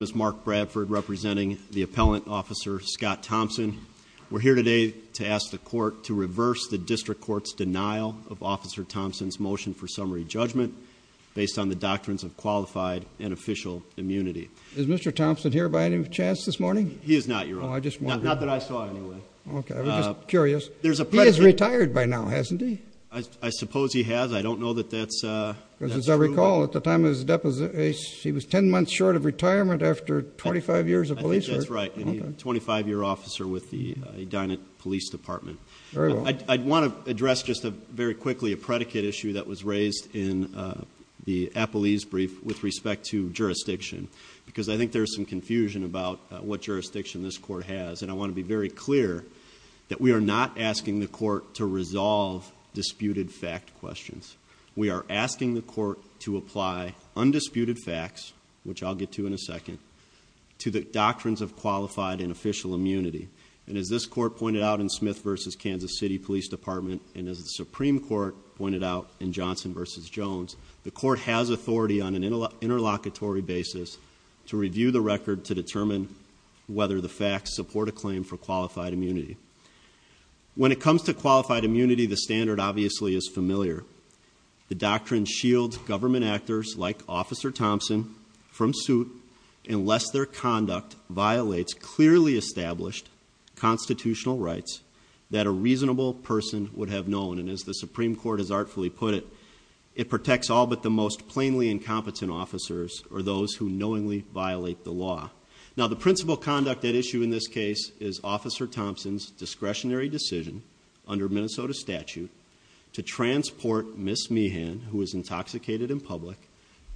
This is Mark Bradford representing the Appellant Officer Scott Thompson. We're here today to ask the court to reverse the District Court's denial of Officer Thompson's motion for summary judgment based on the doctrines of qualified and official immunity. Is Mr. Thompson here by any chance this morning? He is not, Your Honor. Not that I saw him anyway. Okay, I'm just curious. He has retired by now, hasn't he? I suppose he has. I don't know that that's true. Because as I recall, at the time of his deposition, he was 10 months short of retirement after 25 years of police work. I think that's right. And he's a 25-year officer with the Edina Police Department. Very well. I want to address just very quickly a predicate issue that was raised in the Appellee's brief with respect to jurisdiction. Because I think there's some confusion about what jurisdiction this court has. And I want to be very clear that we are not asking the court to resolve disputed fact questions. We are asking the court to apply undisputed facts, which I'll get to in a second, to the doctrines of qualified and official immunity. And as this court pointed out in Smith v. Kansas City Police Department, and as the Supreme Court pointed out in Johnson v. Jones, the court has authority on an interlocutory basis to review the record to determine whether the facts support a claim for qualified immunity. When it comes to qualified immunity, the standard obviously is familiar. The doctrine shields government actors like Officer Thompson from suit unless their conduct violates clearly established constitutional rights that a reasonable person would have known. And as the Supreme Court has artfully put it, it protects all but the most plainly incompetent officers or those who knowingly violate the law. Now, the principal conduct at issue in this case is Officer Thompson's discretionary decision, under Minnesota statute, to transport Ms. Meehan, who was intoxicated in public,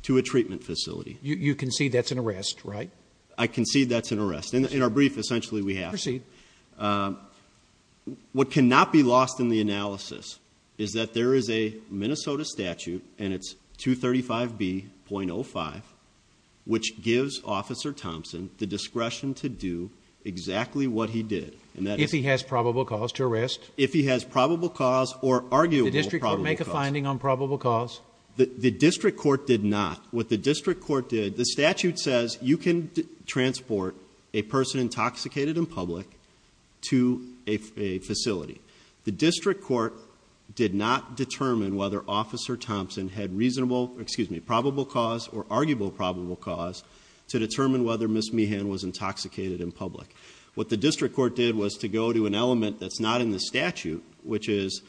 to a treatment facility. You concede that's an arrest, right? I concede that's an arrest. In our brief, essentially, we have. Proceed. What cannot be lost in the analysis is that there is a Minnesota statute, and it's 235B.05, which gives Officer Thompson the discretion to do exactly what he did. If he has probable cause to arrest? If he has probable cause or arguable probable cause. Did the district court make a finding on probable cause? The district court did not. What the district court did, the statute says you can transport a person intoxicated in public to a facility. The district court did not determine whether Officer Thompson had reasonable, excuse me, probable cause or arguable probable cause to determine whether Ms. Meehan was intoxicated in public. What the district court did was to go to an element that's not in the statute, which is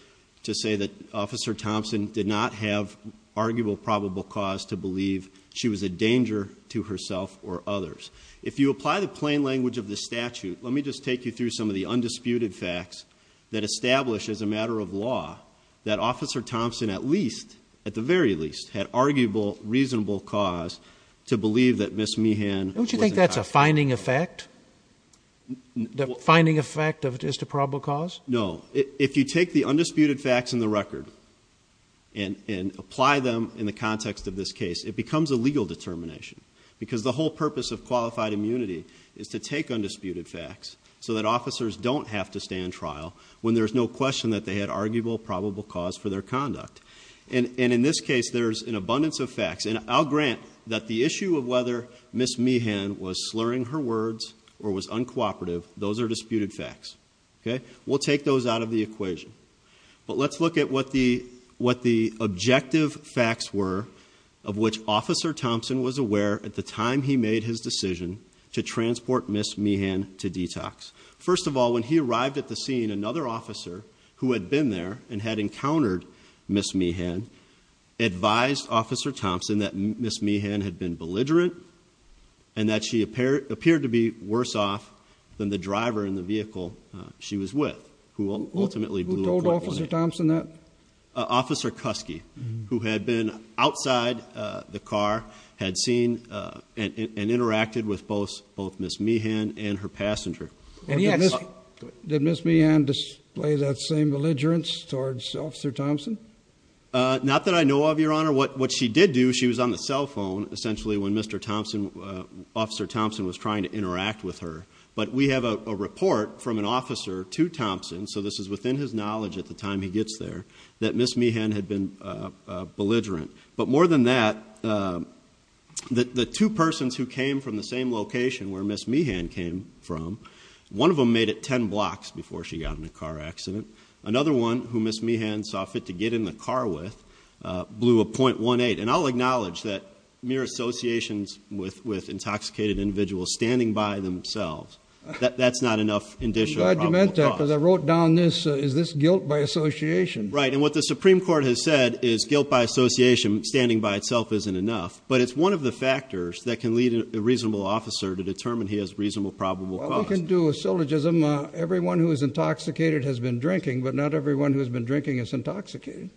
to say that Officer Thompson did not have arguable probable cause to believe she was a danger to herself or others. If you apply the plain language of the statute, let me just take you through some of the undisputed facts that establish as a matter of law that Officer Thompson at least, at the very least, had arguable reasonable cause to believe that Ms. Meehan was intoxicated. Don't you think that's a finding effect? The finding effect of just a probable cause? No. If you take the undisputed facts in the record and apply them in the context of this case, it becomes a legal determination because the whole purpose of qualified immunity is to take undisputed facts so that officers don't have to stay in trial when there's no question that they had arguable probable cause for their conduct. And in this case, there's an abundance of facts. And I'll grant that the issue of whether Ms. Meehan was slurring her words or was uncooperative, those are disputed facts. We'll take those out of the equation. But let's look at what the objective facts were of which Officer Thompson was aware at the time he made his decision to transport Ms. Meehan to detox. First of all, when he arrived at the scene, another officer who had been there and had encountered Ms. Meehan advised Officer Thompson that Ms. Meehan had been belligerent and that she appeared to be worse off than the driver in the vehicle she was with, who ultimately blew up. Who told Officer Thompson that? Officer Cusky, who had been outside the car, had seen and interacted with both Ms. Meehan and her passenger. Did Ms. Meehan display that same belligerence towards Officer Thompson? Not that I know of, Your Honor. What she did do, she was on the cell phone essentially when Mr. Thompson, Officer Thompson, was trying to interact with her. But we have a report from an officer to Thompson, so this is within his knowledge at the time he gets there, that Ms. Meehan had been belligerent. But more than that, the two persons who came from the same location where Ms. Meehan came from, one of them made it 10 blocks before she got in a car accident. Another one, who Ms. Meehan saw fit to get in the car with, blew a .18. And I'll acknowledge that mere associations with intoxicated individuals standing by themselves, that's not enough indicial probable cause. I'm glad you meant that, because I wrote down this, is this guilt by association? Right, and what the Supreme Court has said is guilt by association standing by itself isn't enough. But it's one of the factors that can lead a reasonable officer to determine he has reasonable probable cause. Well, we can do a syllogism, everyone who is intoxicated has been drinking, but not everyone who has been drinking is intoxicated.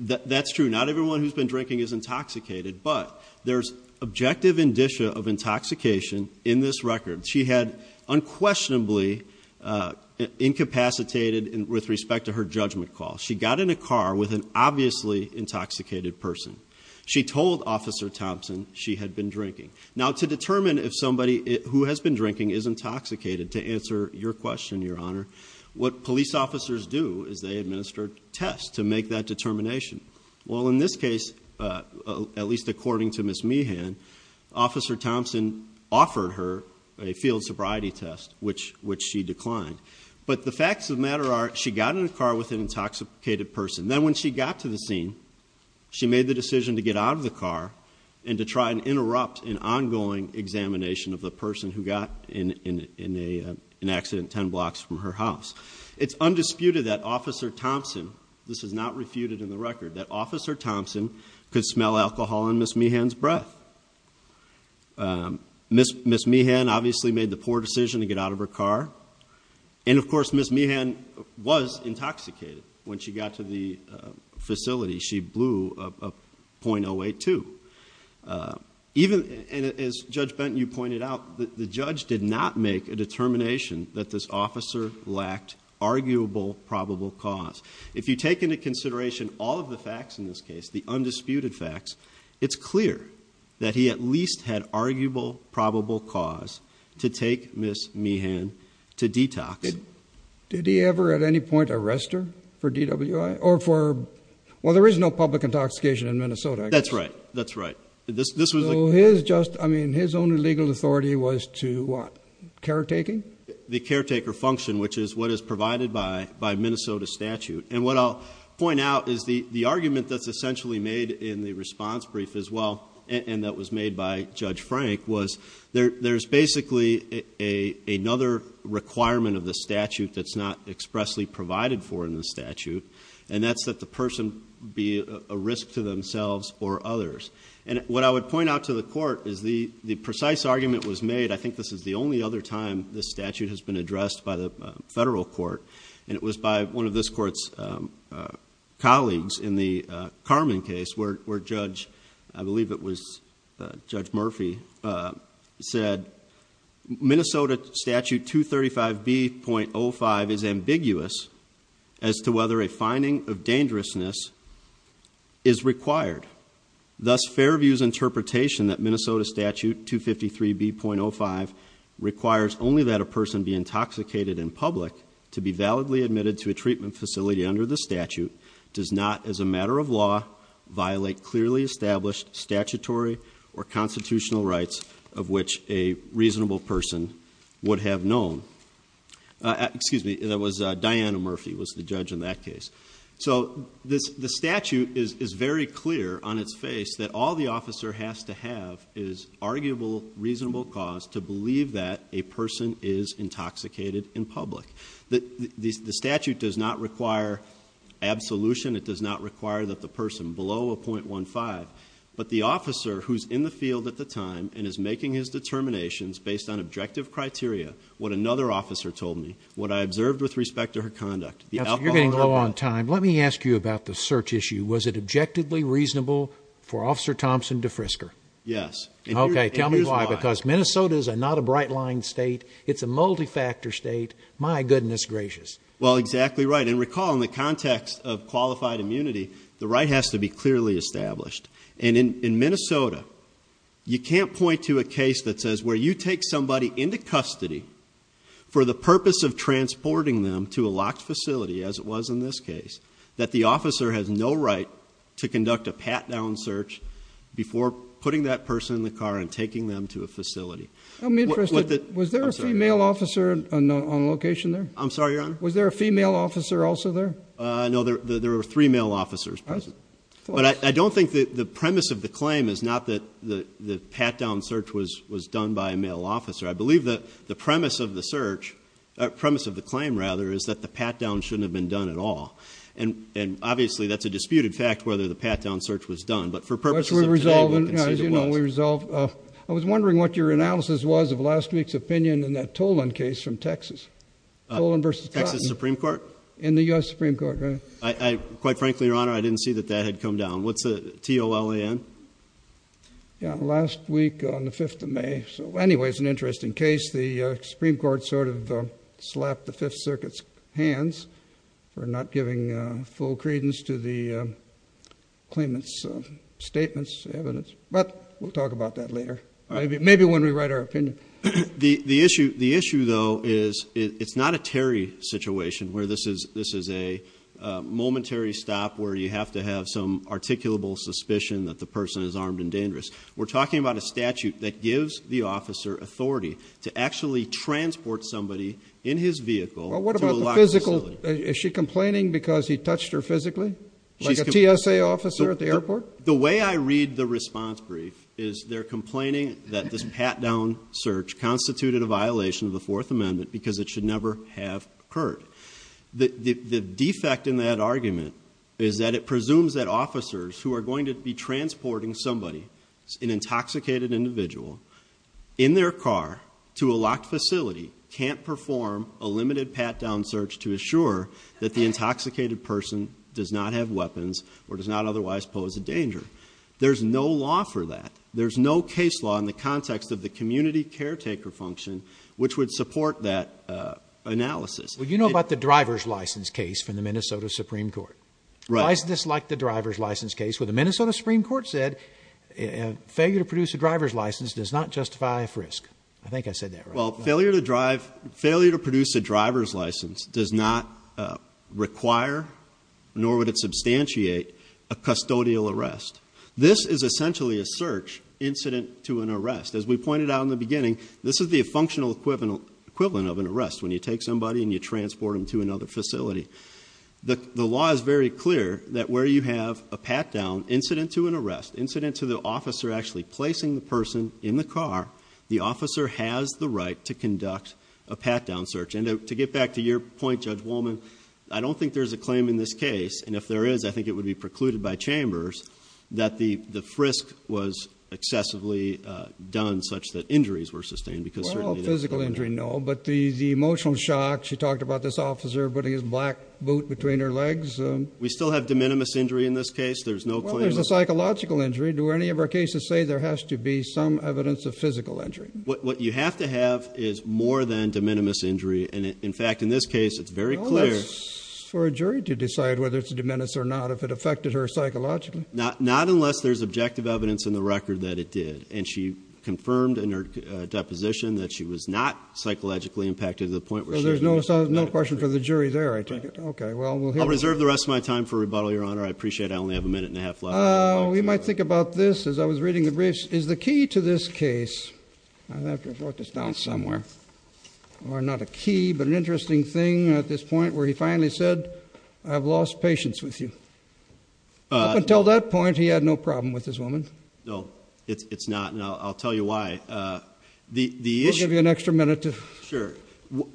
That's true, not everyone who's been drinking is intoxicated. But there's objective indicia of intoxication in this record. She had unquestionably incapacitated with respect to her judgment call. She got in a car with an obviously intoxicated person. She told Officer Thompson she had been drinking. Now, to determine if somebody who has been drinking is intoxicated, to answer your question, Your Honor, what police officers do is they administer tests to make that determination. Well, in this case, at least according to Ms. Meehan, Officer Thompson offered her a field sobriety test, which she declined. But the facts of the matter are she got in a car with an intoxicated person. Then when she got to the scene, she made the decision to get out of the car and to try and interrupt an ongoing examination of the person who got in an accident ten blocks from her house. It's undisputed that Officer Thompson, this is not refuted in the record, that Officer Thompson could smell alcohol in Ms. Meehan's breath. Ms. Meehan obviously made the poor decision to get out of her car. And, of course, Ms. Meehan was intoxicated when she got to the facility. She blew a .082. As Judge Benton, you pointed out, the judge did not make a determination that this officer lacked arguable probable cause. If you take into consideration all of the facts in this case, the undisputed facts, it's clear that he at least had arguable probable cause to take Ms. Meehan to detox. Did he ever at any point arrest her for DWI? Well, there is no public intoxication in Minnesota. That's right. That's right. So his only legal authority was to what? Caretaking? The caretaker function, which is what is provided by Minnesota statute. And what I'll point out is the argument that's essentially made in the response brief as well, and that was made by Judge Frank, was there's basically another requirement of the statute that's not expressly provided for in the statute, and that's that the person be a risk to themselves or others. And what I would point out to the court is the precise argument was made, I think this is the only other time this statute has been addressed by the federal court, and it was by one of this court's colleagues in the Carman case where Judge, I believe it was Judge Murphy, said Minnesota statute 235B.05 is ambiguous as to whether a finding of dangerousness is required. Thus Fairview's interpretation that Minnesota statute 253B.05 requires only that a person be intoxicated in public to be validly admitted to a treatment facility under the statute does not, as a matter of law, violate clearly established statutory or constitutional rights of which a reasonable person would have known. Excuse me, that was Diana Murphy was the judge in that case. So the statute is very clear on its face that all the officer has to have is arguable, reasonable cause to believe that a person is intoxicated in public. The statute does not require absolution. It does not require that the person below a .15, but the officer who's in the field at the time and is making his determinations based on objective criteria, what another officer told me, what I observed with respect to her conduct. You're getting low on time. Let me ask you about the search issue. Was it objectively reasonable for Officer Thompson to frisker? Yes. Okay, tell me why. Because Minnesota is not a bright line state. It's a multi-factor state. My goodness gracious. Well, exactly right. And recall, in the context of qualified immunity, the right has to be clearly established. And in Minnesota, you can't point to a case that says where you take somebody into custody for the purpose of transporting them to a locked facility, as it was in this case, that the officer has no right to conduct a pat-down search before putting that person in the car and taking them to a facility. I'm interested. Was there a female officer on location there? I'm sorry, Your Honor? Was there a female officer also there? No, there were three male officers present. But I don't think the premise of the claim is not that the pat-down search was done by a male officer. I believe that the premise of the claim is that the pat-down shouldn't have been done at all. And obviously that's a disputed fact, whether the pat-down search was done. But for purposes of today, we can say it was. I was wondering what your analysis was of last week's opinion in that Tolan case from Texas. Tolan v. Cotton. Texas Supreme Court? In the U.S. Supreme Court, right? Quite frankly, Your Honor, I didn't see that that had come down. What's the T-O-L-A-N? Yeah, last week on the 5th of May. So anyway, it's an interesting case. The Supreme Court sort of slapped the Fifth Circuit's hands for not giving full credence to the claimant's statements, evidence. But we'll talk about that later, maybe when we write our opinion. The issue, though, is it's not a Terry situation where this is a momentary stop where you have to have some articulable suspicion that the person is armed and dangerous. We're talking about a statute that gives the officer authority to actually transport somebody in his vehicle to a locked facility. Well, what about the physical? Is she complaining because he touched her physically? Like a TSA officer at the airport? The way I read the response brief is they're complaining that this pat-down search constituted a violation of the Fourth Amendment because it should never have occurred. The defect in that argument is that it presumes that officers who are going to be transporting somebody, an intoxicated individual, in their car to a locked facility can't perform a limited pat-down search to assure that the intoxicated person does not have weapons or does not otherwise pose a danger. There's no law for that. There's no case law in the context of the community caretaker function which would support that analysis. Well, you know about the driver's license case from the Minnesota Supreme Court. Why is this like the driver's license case? Well, the Minnesota Supreme Court said failure to produce a driver's license does not justify a frisk. I think I said that right. Well, failure to produce a driver's license does not require nor would it substantiate a custodial arrest. This is essentially a search incident to an arrest. As we pointed out in the beginning, this is the functional equivalent of an arrest when you take somebody and you transport them to another facility. The law is very clear that where you have a pat-down incident to an arrest, incident to the officer actually placing the person in the car, the officer has the right to conduct a pat-down search. And to get back to your point, Judge Wolman, I don't think there's a claim in this case, and if there is, I think it would be precluded by Chambers, that the frisk was excessively done such that injuries were sustained. Well, physical injury, no, but the emotional shock. She talked about this officer putting his black boot between her legs. We still have de minimis injury in this case? Well, there's a psychological injury. Do any of our cases say there has to be some evidence of physical injury? What you have to have is more than de minimis injury. In fact, in this case, it's very clear. Well, that's for a jury to decide whether it's de minimis or not, if it affected her psychologically. Not unless there's objective evidence in the record that it did. And she confirmed in her deposition that she was not psychologically impacted to the point where she was. Well, there's no question for the jury there, I take it. I'll reserve the rest of my time for rebuttal, Your Honor. I appreciate it. I only have a minute and a half left. We might think about this as I was reading the briefs. Is the key to this case, I'll have to have wrote this down somewhere, or not a key but an interesting thing at this point where he finally said, I've lost patience with you. Up until that point, he had no problem with this woman. No, it's not, and I'll tell you why. We'll give you an extra minute. Sure.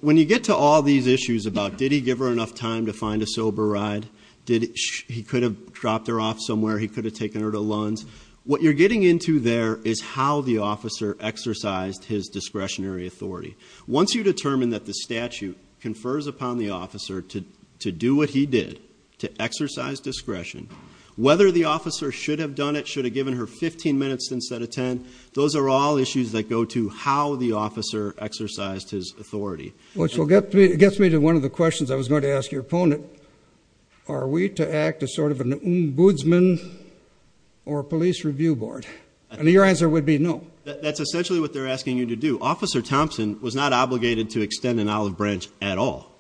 When you get to all these issues about did he give her enough time to find a sober ride, he could have dropped her off somewhere, he could have taken her to Lund's, what you're getting into there is how the officer exercised his discretionary authority. Once you determine that the statute confers upon the officer to do what he did, to exercise discretion, whether the officer should have done it, should have given her 15 minutes instead of 10, those are all issues that go to how the officer exercised his authority. Which gets me to one of the questions I was going to ask your opponent. Are we to act as sort of an ombudsman or a police review board? And your answer would be no. That's essentially what they're asking you to do. Officer Thompson was not obligated to extend an olive branch at all.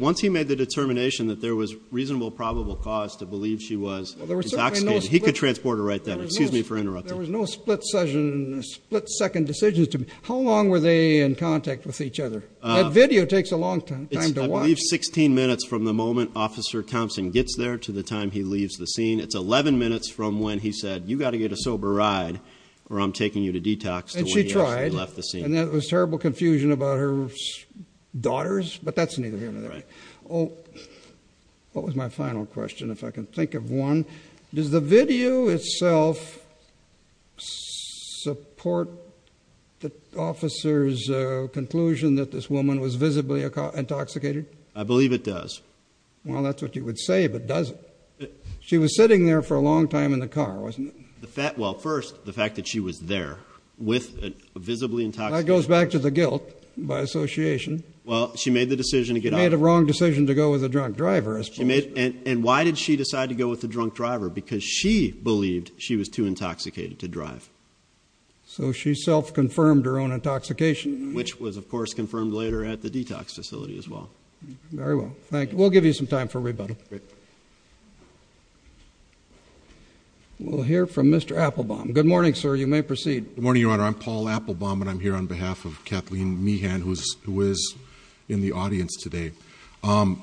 Once he made the determination that there was reasonable probable cause to believe she was intoxicated, he could transport her right then. Excuse me for interrupting. There was no split-second decisions to make. How long were they in contact with each other? That video takes a long time to watch. I believe 16 minutes from the moment Officer Thompson gets there to the time he leaves the scene. It's 11 minutes from when he said, you've got to get a sober ride or I'm taking you to detox to when you actually left the scene. And there was terrible confusion about her daughters, but that's neither here nor there. What was my final question, if I can think of one? Does the video itself support the officer's conclusion that this woman was visibly intoxicated? I believe it does. Well, that's what you would say, but does it? She was sitting there for a long time in the car, wasn't it? Well, first, the fact that she was there with a visibly intoxicated woman. That goes back to the guilt by association. Well, she made the decision to get out. She made the wrong decision to go with a drunk driver. And why did she decide to go with a drunk driver? Because she believed she was too intoxicated to drive. So she self-confirmed her own intoxication. Which was, of course, confirmed later at the detox facility as well. Very well. Thank you. We'll give you some time for rebuttal. Okay. We'll hear from Mr. Applebaum. Good morning, sir. You may proceed. Good morning, Your Honor. I'm Paul Applebaum, and I'm here on behalf of Kathleen Meehan, who is in the audience today. I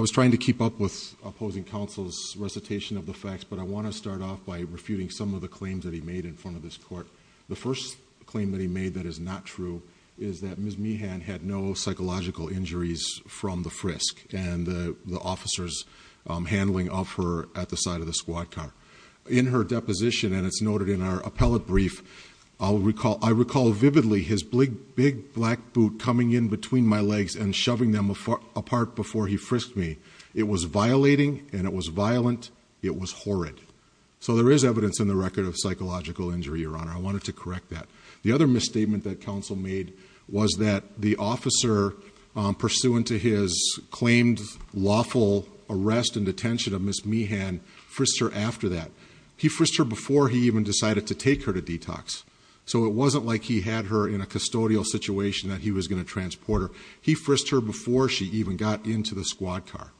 was trying to keep up with opposing counsel's recitation of the facts, but I want to start off by refuting some of the claims that he made in front of this court. The first claim that he made that is not true is that Ms. Meehan had no psychological injuries from the frisk. And the officer's handling of her at the side of the squad car. In her deposition, and it's noted in our appellate brief, I recall vividly his big black boot coming in between my legs and shoving them apart before he frisked me. It was violating, and it was violent. It was horrid. So there is evidence in the record of psychological injury, Your Honor. I wanted to correct that. The other misstatement that counsel made was that the officer, pursuant to his claimed lawful arrest and detention of Ms. Meehan, frisked her after that. He frisked her before he even decided to take her to detox. So it wasn't like he had her in a custodial situation that he was going to transport her. He frisked her before she even got into the squad car.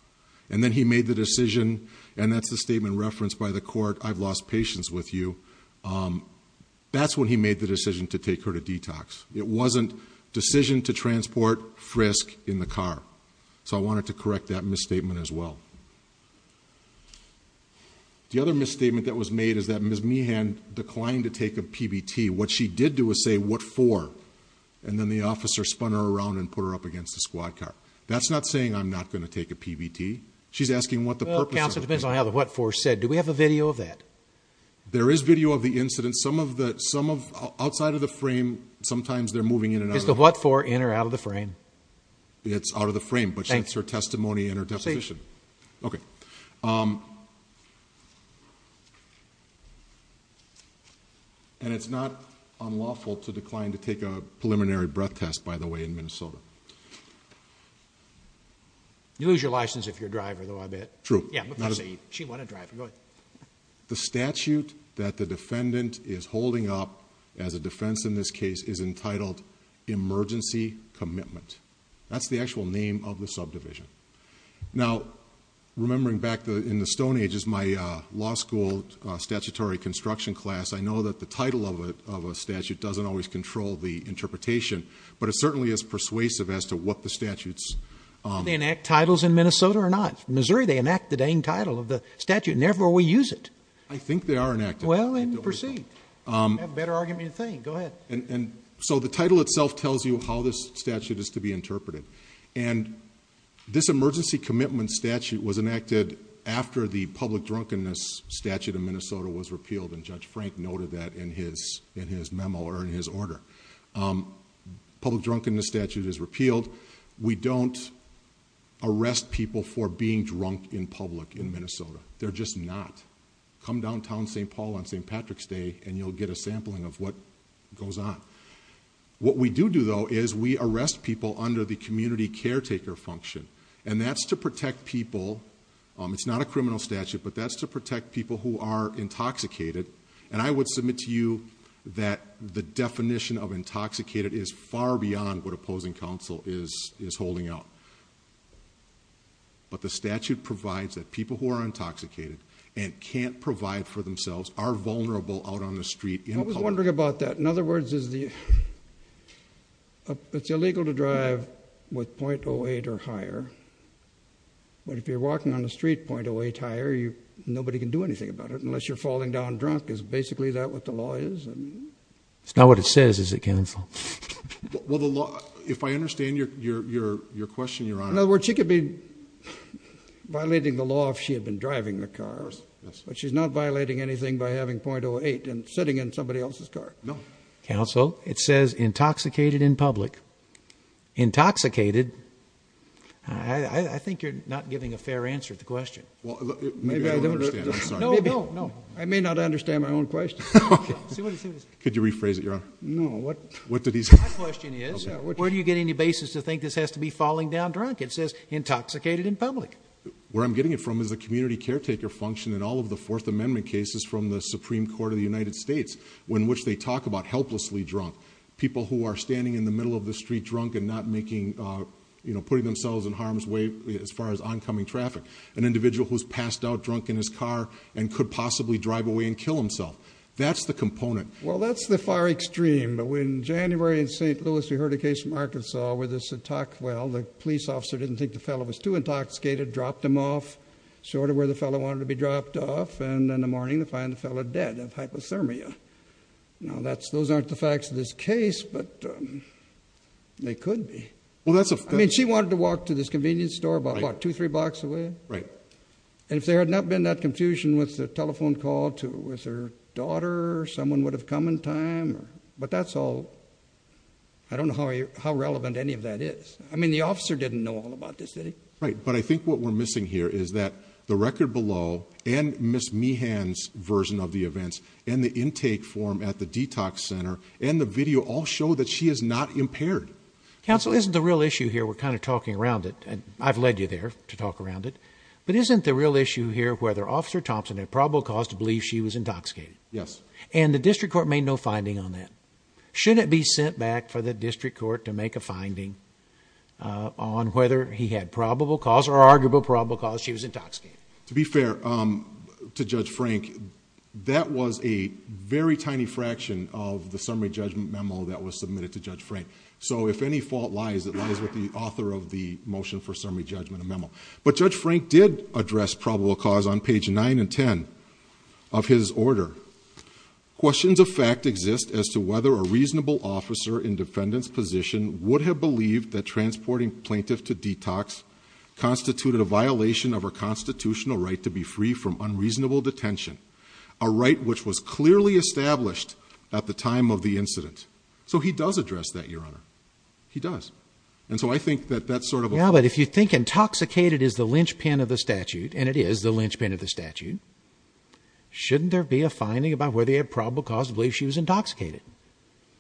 And then he made the decision, and that's the statement referenced by the court, I've lost patience with you. That's when he made the decision to take her to detox. It wasn't decision to transport, frisk in the car. So I wanted to correct that misstatement as well. The other misstatement that was made is that Ms. Meehan declined to take a PBT. What she did do was say, what for? And then the officer spun her around and put her up against the squad car. That's not saying I'm not going to take a PBT. She's asking what the purpose of it is. Based on how the what for said, do we have a video of that? There is video of the incident. Outside of the frame, sometimes they're moving in and out of the frame. Does the what for enter out of the frame? It's out of the frame, but that's her testimony and her definition. Okay. And it's not unlawful to decline to take a preliminary breath test, by the way, in Minnesota. You lose your license if you're a driver, though, I bet. True. The statute that the defendant is holding up as a defense in this case is entitled emergency commitment. That's the actual name of the subdivision. Now, remembering back in the Stone Age is my law school statutory construction class. I know that the title of a statute doesn't always control the interpretation, but it certainly is persuasive as to what the statutes. Do they enact titles in Minnesota or not? In Missouri, they enact the dang title of the statute, and therefore we use it. I think they are enacted. Well, then proceed. You have better argument than you think. Go ahead. And so the title itself tells you how this statute is to be interpreted. And this emergency commitment statute was enacted after the public drunkenness statute in Minnesota was repealed, and Judge Frank noted that in his memo or in his order. Public drunkenness statute is repealed. We don't arrest people for being drunk in public in Minnesota. They're just not. Come downtown St. Paul on St. Patrick's Day, and you'll get a sampling of what goes on. What we do do, though, is we arrest people under the community caretaker function, and that's to protect people. It's not a criminal statute, but that's to protect people who are intoxicated. And I would submit to you that the definition of intoxicated is far beyond what opposing counsel is holding out. But the statute provides that people who are intoxicated and can't provide for themselves are vulnerable out on the street. I was wondering about that. In other words, it's illegal to drive with .08 or higher, but if you're walking on the street .08 higher, nobody can do anything about it It's not what it says, is it, counsel? In other words, she could be violating the law if she had been driving the car, but she's not violating anything by having .08 and sitting in somebody else's car. Counsel, it says intoxicated in public. Intoxicated. I think you're not giving a fair answer to the question. I may not understand my own question. Could you rephrase it, Your Honor? No. My question is, where do you get any basis to think this has to be falling down drunk? It says intoxicated in public. Where I'm getting it from is the community caretaker function in all of the Fourth Amendment cases from the Supreme Court of the United States, in which they talk about helplessly drunk. People who are standing in the middle of the street drunk and not putting themselves in harm's way as far as oncoming traffic. An individual who's passed out drunk in his car and could possibly drive away and kill himself. That's the component. Well, that's the far extreme. In January in St. Louis, we heard a case from Arkansas where the police officer didn't think the fellow was too intoxicated, dropped him off sort of where the fellow wanted to be dropped off, and in the morning they find the fellow dead of hypothermia. Now, those aren't the facts of this case, but they could be. I mean, she wanted to walk to this convenience store about, what, two, three blocks away? Right. And if there had not been that confusion with the telephone call with her daughter, someone would have come in time. But that's all. I don't know how relevant any of that is. I mean, the officer didn't know all about this, did he? Right. But I think what we're missing here is that the record below and Ms. Meehan's version of the events and the intake form at the detox center and the video all show that she is not impaired. Counsel, isn't the real issue here, we're kind of talking around it, and I've led you there to talk around it, but isn't the real issue here whether Officer Thompson had probable cause to believe she was intoxicated? Yes. And the district court made no finding on that. Shouldn't it be sent back for the district court to make a finding on whether he had probable cause or arguable probable cause she was intoxicated? To be fair to Judge Frank, that was a very tiny fraction of the summary judgment memo that was submitted to Judge Frank. So if any fault lies, it lies with the author of the motion for summary judgment memo. But Judge Frank did address probable cause on page 9 and 10 of his order. Questions of fact exist as to whether a reasonable officer in defendant's position would have believed that transporting plaintiff to detox constituted a violation of her constitutional right to be free from unreasonable detention, a right which was clearly established at the time of the incident. So he does address that, Your Honor. He does. And so I think that that's sort of a... Yeah, but if you think intoxicated is the linchpin of the statute, and it is the linchpin of the statute, shouldn't there be a finding about whether he had probable cause to believe she was intoxicated?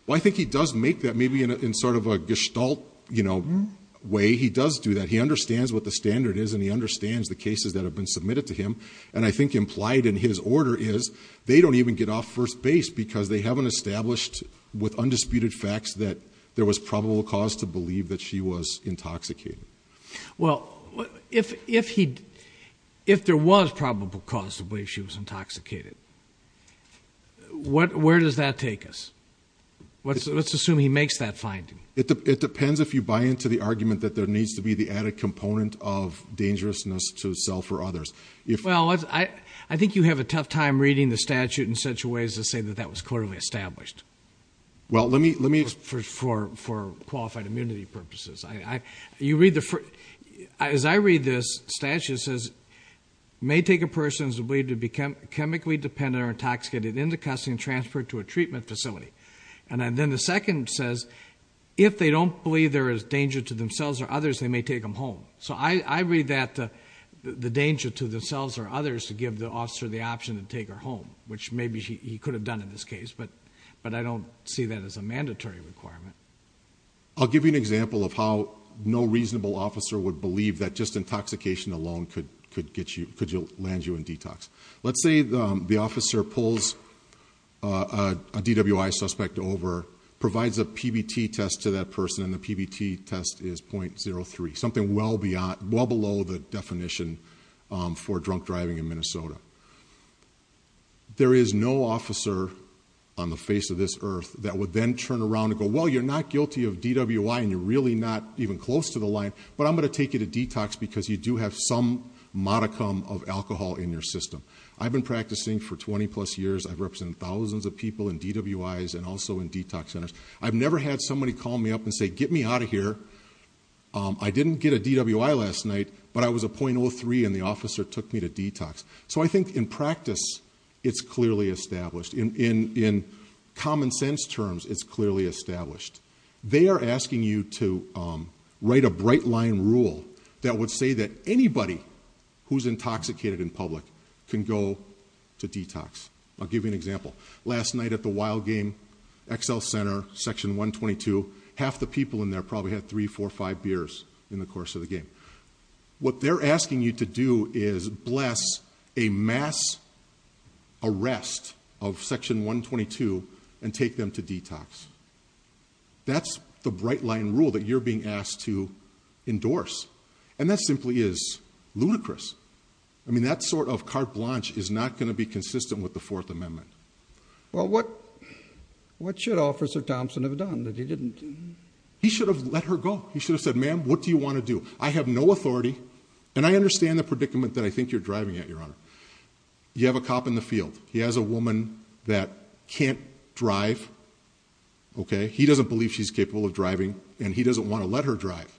Well, I think he does make that maybe in sort of a gestalt, you know, way. He does do that. He understands what the standard is, and he understands the cases that have been submitted to him. And I think implied in his order is they don't even get off first base because they haven't established with undisputed facts that there was probable cause to believe that she was intoxicated. Well, if there was probable cause to believe she was intoxicated, where does that take us? Let's assume he makes that finding. It depends if you buy into the argument that there needs to be the added component of dangerousness to self or others. Well, I think you have a tough time reading the statute in such a way as to say that that was clearly established. Well, let me... For qualified immunity purposes. You read the first... As I read this statute, it says, it may take a person who is believed to be chemically dependent or intoxicated into custody and transferred to a treatment facility. And then the second says, if they don't believe there is danger to themselves or others, they may take them home. So I read that the danger to themselves or others to give the officer the option to take her home, which maybe he could have done in this case, but I don't see that as a mandatory requirement. I'll give you an example of how no reasonable officer would believe that just intoxication alone could land you in detox. Let's say the officer pulls a DWI suspect over, provides a PBT test to that person, and the PBT test is .03, something well below the definition for drunk driving in Minnesota. There is no officer on the face of this earth that would then turn around and go, well, you're not guilty of DWI and you're really not even close to the line, but I'm going to take you to detox because you do have some modicum of alcohol in your system. I've been practicing for 20-plus years. I've represented thousands of people in DWIs and also in detox centers. I've never had somebody call me up and say, get me out of here. I didn't get a DWI last night, but I was a .03 and the officer took me to detox. So I think in practice it's clearly established. In common sense terms, it's clearly established. They are asking you to write a bright-line rule that would say that anybody who's intoxicated in public can go to detox. I'll give you an example. Last night at the Wild Game Excel Center, Section 122, half the people in there probably had three, four, five beers in the course of the game. What they're asking you to do is bless a mass arrest of Section 122 and take them to detox. That's the bright-line rule that you're being asked to endorse. And that simply is ludicrous. I mean, that sort of carte blanche is not going to be consistent with the Fourth Amendment. Well, what should Officer Thompson have done that he didn't? He should have let her go. He should have said, ma'am, what do you want to do? I have no authority, and I understand the predicament that I think you're driving at, Your Honor. You have a cop in the field. He has a woman that can't drive. He doesn't believe she's capable of driving, and he doesn't want to let her drive.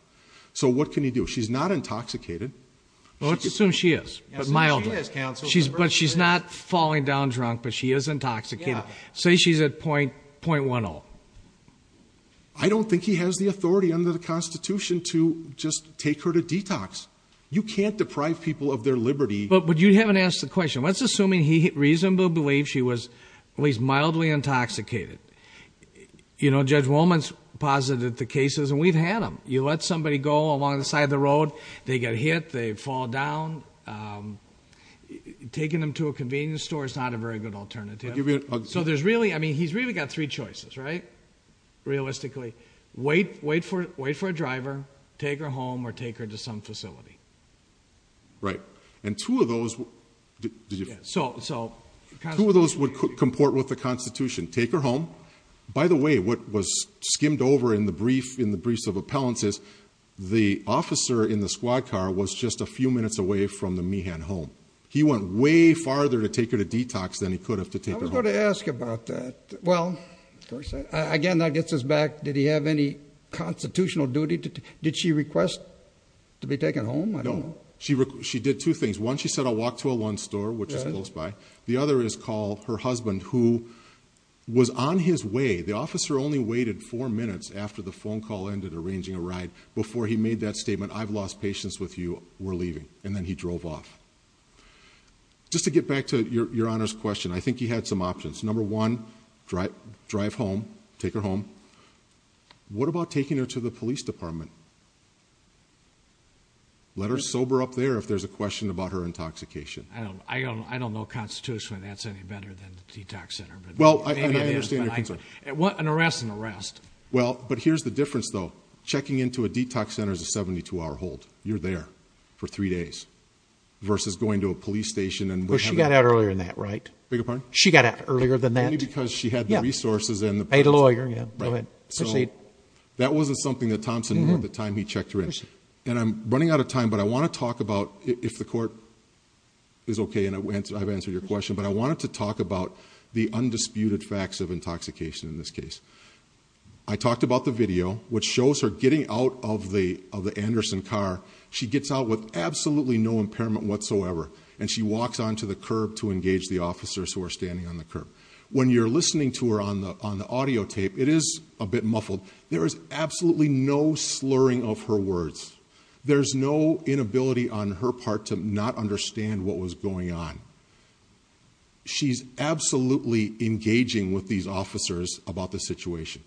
So what can he do? She's not intoxicated. Well, let's assume she is, but mildly. But she's not falling down drunk, but she is intoxicated. Say she's at .10. I don't think he has the authority under the Constitution to just take her to detox. You can't deprive people of their liberty. But you haven't asked the question. Let's assume he reasonably believes she was at least mildly intoxicated. You know, Judge Wolman has posited the cases, and we've had them. You let somebody go along the side of the road. They get hit. They fall down. Taking them to a convenience store is not a very good alternative. So there's really, I mean, he's really got three choices, right, realistically. Wait for a driver, take her home, or take her to some facility. Right. And two of those would comport with the Constitution. Take her home. By the way, what was skimmed over in the briefs of appellants is the officer in the squad car was just a few minutes away from the Meehan home. He went way farther to take her to detox than he could have to take her home. I was going to ask about that. Well, again, that gets us back. Did he have any constitutional duty? Did she request to be taken home? No. She did two things. One, she said, I'll walk to a Lund store, which is close by. The other is call her husband, who was on his way. The officer only waited four minutes after the phone call ended, arranging a ride, before he made that statement, I've lost patience with you, we're leaving. And then he drove off. Just to get back to Your Honor's question, I think he had some options. Number one, drive home, take her home. What about taking her to the police department? Let her sober up there if there's a question about her intoxication. I don't know constitutionally that's any better than the detox center. Well, I understand your concern. An arrest is an arrest. Well, but here's the difference, though. Checking into a detox center is a 72-hour hold. You're there for three days, versus going to a police station. Well, she got out earlier than that, right? Beg your pardon? She got out earlier than that. Only because she had the resources. A lawyer, yeah. Go ahead. Proceed. That wasn't something that Thompson knew at the time he checked her in. Proceed. And I'm running out of time, but I want to talk about, if the court is okay and I've answered your question, but I wanted to talk about the undisputed facts of intoxication in this case. I talked about the video, which shows her getting out of the Anderson car. She gets out with absolutely no impairment whatsoever, and she walks onto the curb to engage the officers who are standing on the curb. When you're listening to her on the audio tape, it is a bit muffled. There is absolutely no slurring of her words. There's no inability on her part to not understand what was going on. She's absolutely engaging with these officers about the situation.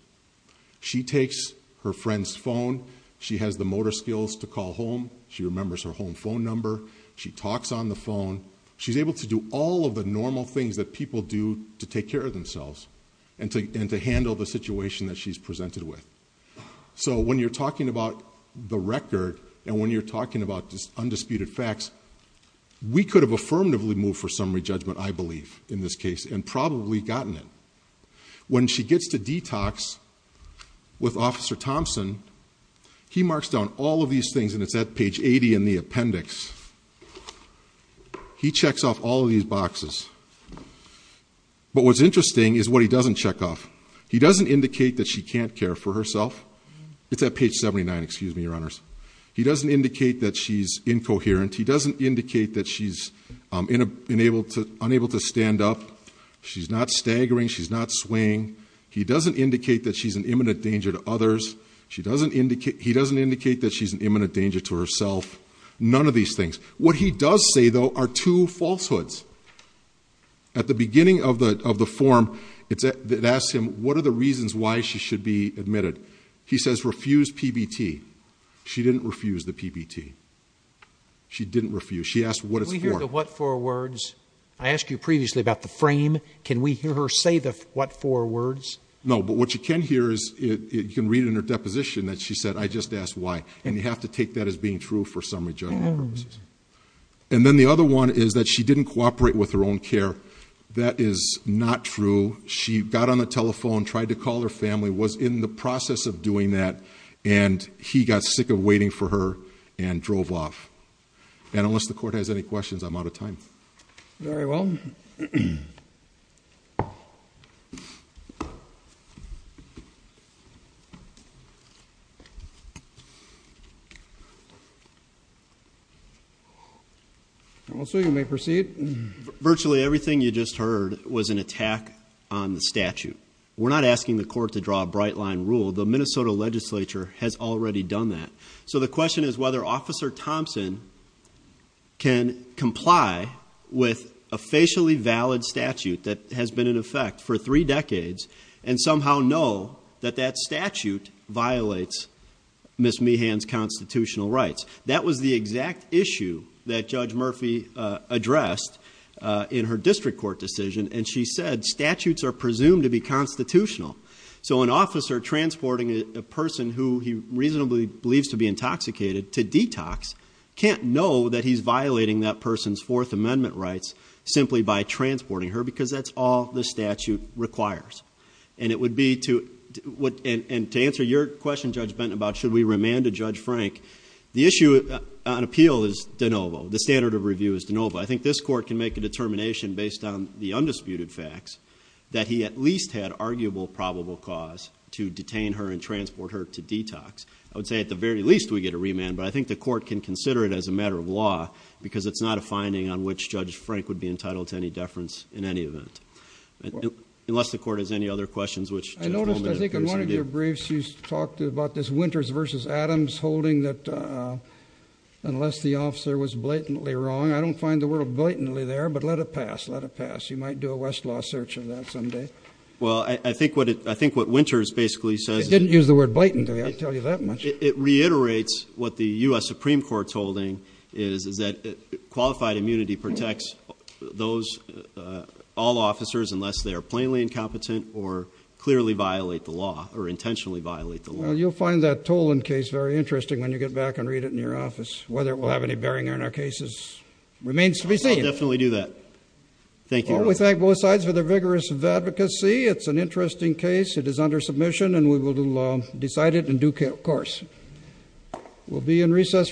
She takes her friend's phone. She has the motor skills to call home. She remembers her home phone number. She talks on the phone. She's able to do all of the normal things that people do to take care of and to handle the situation that she's presented with. So when you're talking about the record and when you're talking about undisputed facts, we could have affirmatively moved for summary judgment, I believe, in this case, and probably gotten it. When she gets to detox with Officer Thompson, he marks down all of these things, and it's at page 80 in the appendix. He checks off all of these boxes. But what's interesting is what he doesn't check off. He doesn't indicate that she can't care for herself. It's at page 79, excuse me, Your Honors. He doesn't indicate that she's incoherent. He doesn't indicate that she's unable to stand up. She's not staggering. She's not swaying. He doesn't indicate that she's an imminent danger to others. He doesn't indicate that she's an imminent danger to herself. None of these things. What he does say, though, are two falsehoods. At the beginning of the form, it asks him, what are the reasons why she should be admitted? He says, refuse PBT. She didn't refuse the PBT. She didn't refuse. She asked what it's for. Can we hear the what for words? I asked you previously about the frame. Can we hear her say the what for words? No, but what you can hear is you can read in her deposition that she said, I just asked why. And you have to take that as being true for summary judgment purposes. And then the other one is that she didn't cooperate with her own care. That is not true. She got on the telephone, tried to call her family, was in the process of doing that, and he got sick of waiting for her and drove off. And unless the Court has any questions, I'm out of time. Very well. So you may proceed. Virtually everything you just heard was an attack on the statute. We're not asking the Court to draw a bright line rule. The Minnesota legislature has already done that. So the question is whether Officer Thompson can comply with a facially valid statute that has been in effect for three decades and somehow know that that statute violates Ms. Meehan's constitutional rights. That was the exact issue that Judge Murphy addressed in her district court decision, and she said statutes are presumed to be constitutional. So an officer transporting a person who he reasonably believes to be intoxicated to detox can't know that he's violating that person's Fourth Amendment rights simply by transporting her because that's all the statute requires. And to answer your question, Judge Benton, about should we remand to Judge Frank, the issue on appeal is de novo. The standard of review is de novo. I think this Court can make a determination based on the undisputed facts that he at least had arguable probable cause to detain her and transport her to detox. I would say at the very least we get a remand, but I think the Court can consider it as a matter of law because it's not a finding on which Judge Frank would be entitled to any deference in any event. Unless the Court has any other questions, which Judge Goldman appears to do. I think in one of your briefs you talked about this Winters v. Adams holding that unless the officer was blatantly wrong, I don't find the word blatantly there, but let it pass. Let it pass. You might do a Westlaw search of that someday. Well, I think what Winters basically says is that They didn't use the word blatantly, I'll tell you that much. It reiterates what the U.S. Supreme Court's holding is, is that qualified immunity protects all officers unless they are plainly incompetent or clearly violate the law or intentionally violate the law. Well, you'll find that Toland case very interesting when you get back and read it in your office. Whether it will have any bearing on our cases remains to be seen. I'll definitely do that. Thank you, Your Honor. We thank both sides for their vigorous advocacy. It's an interesting case. It is under submission, and we will decide it in due course. We'll be in recess.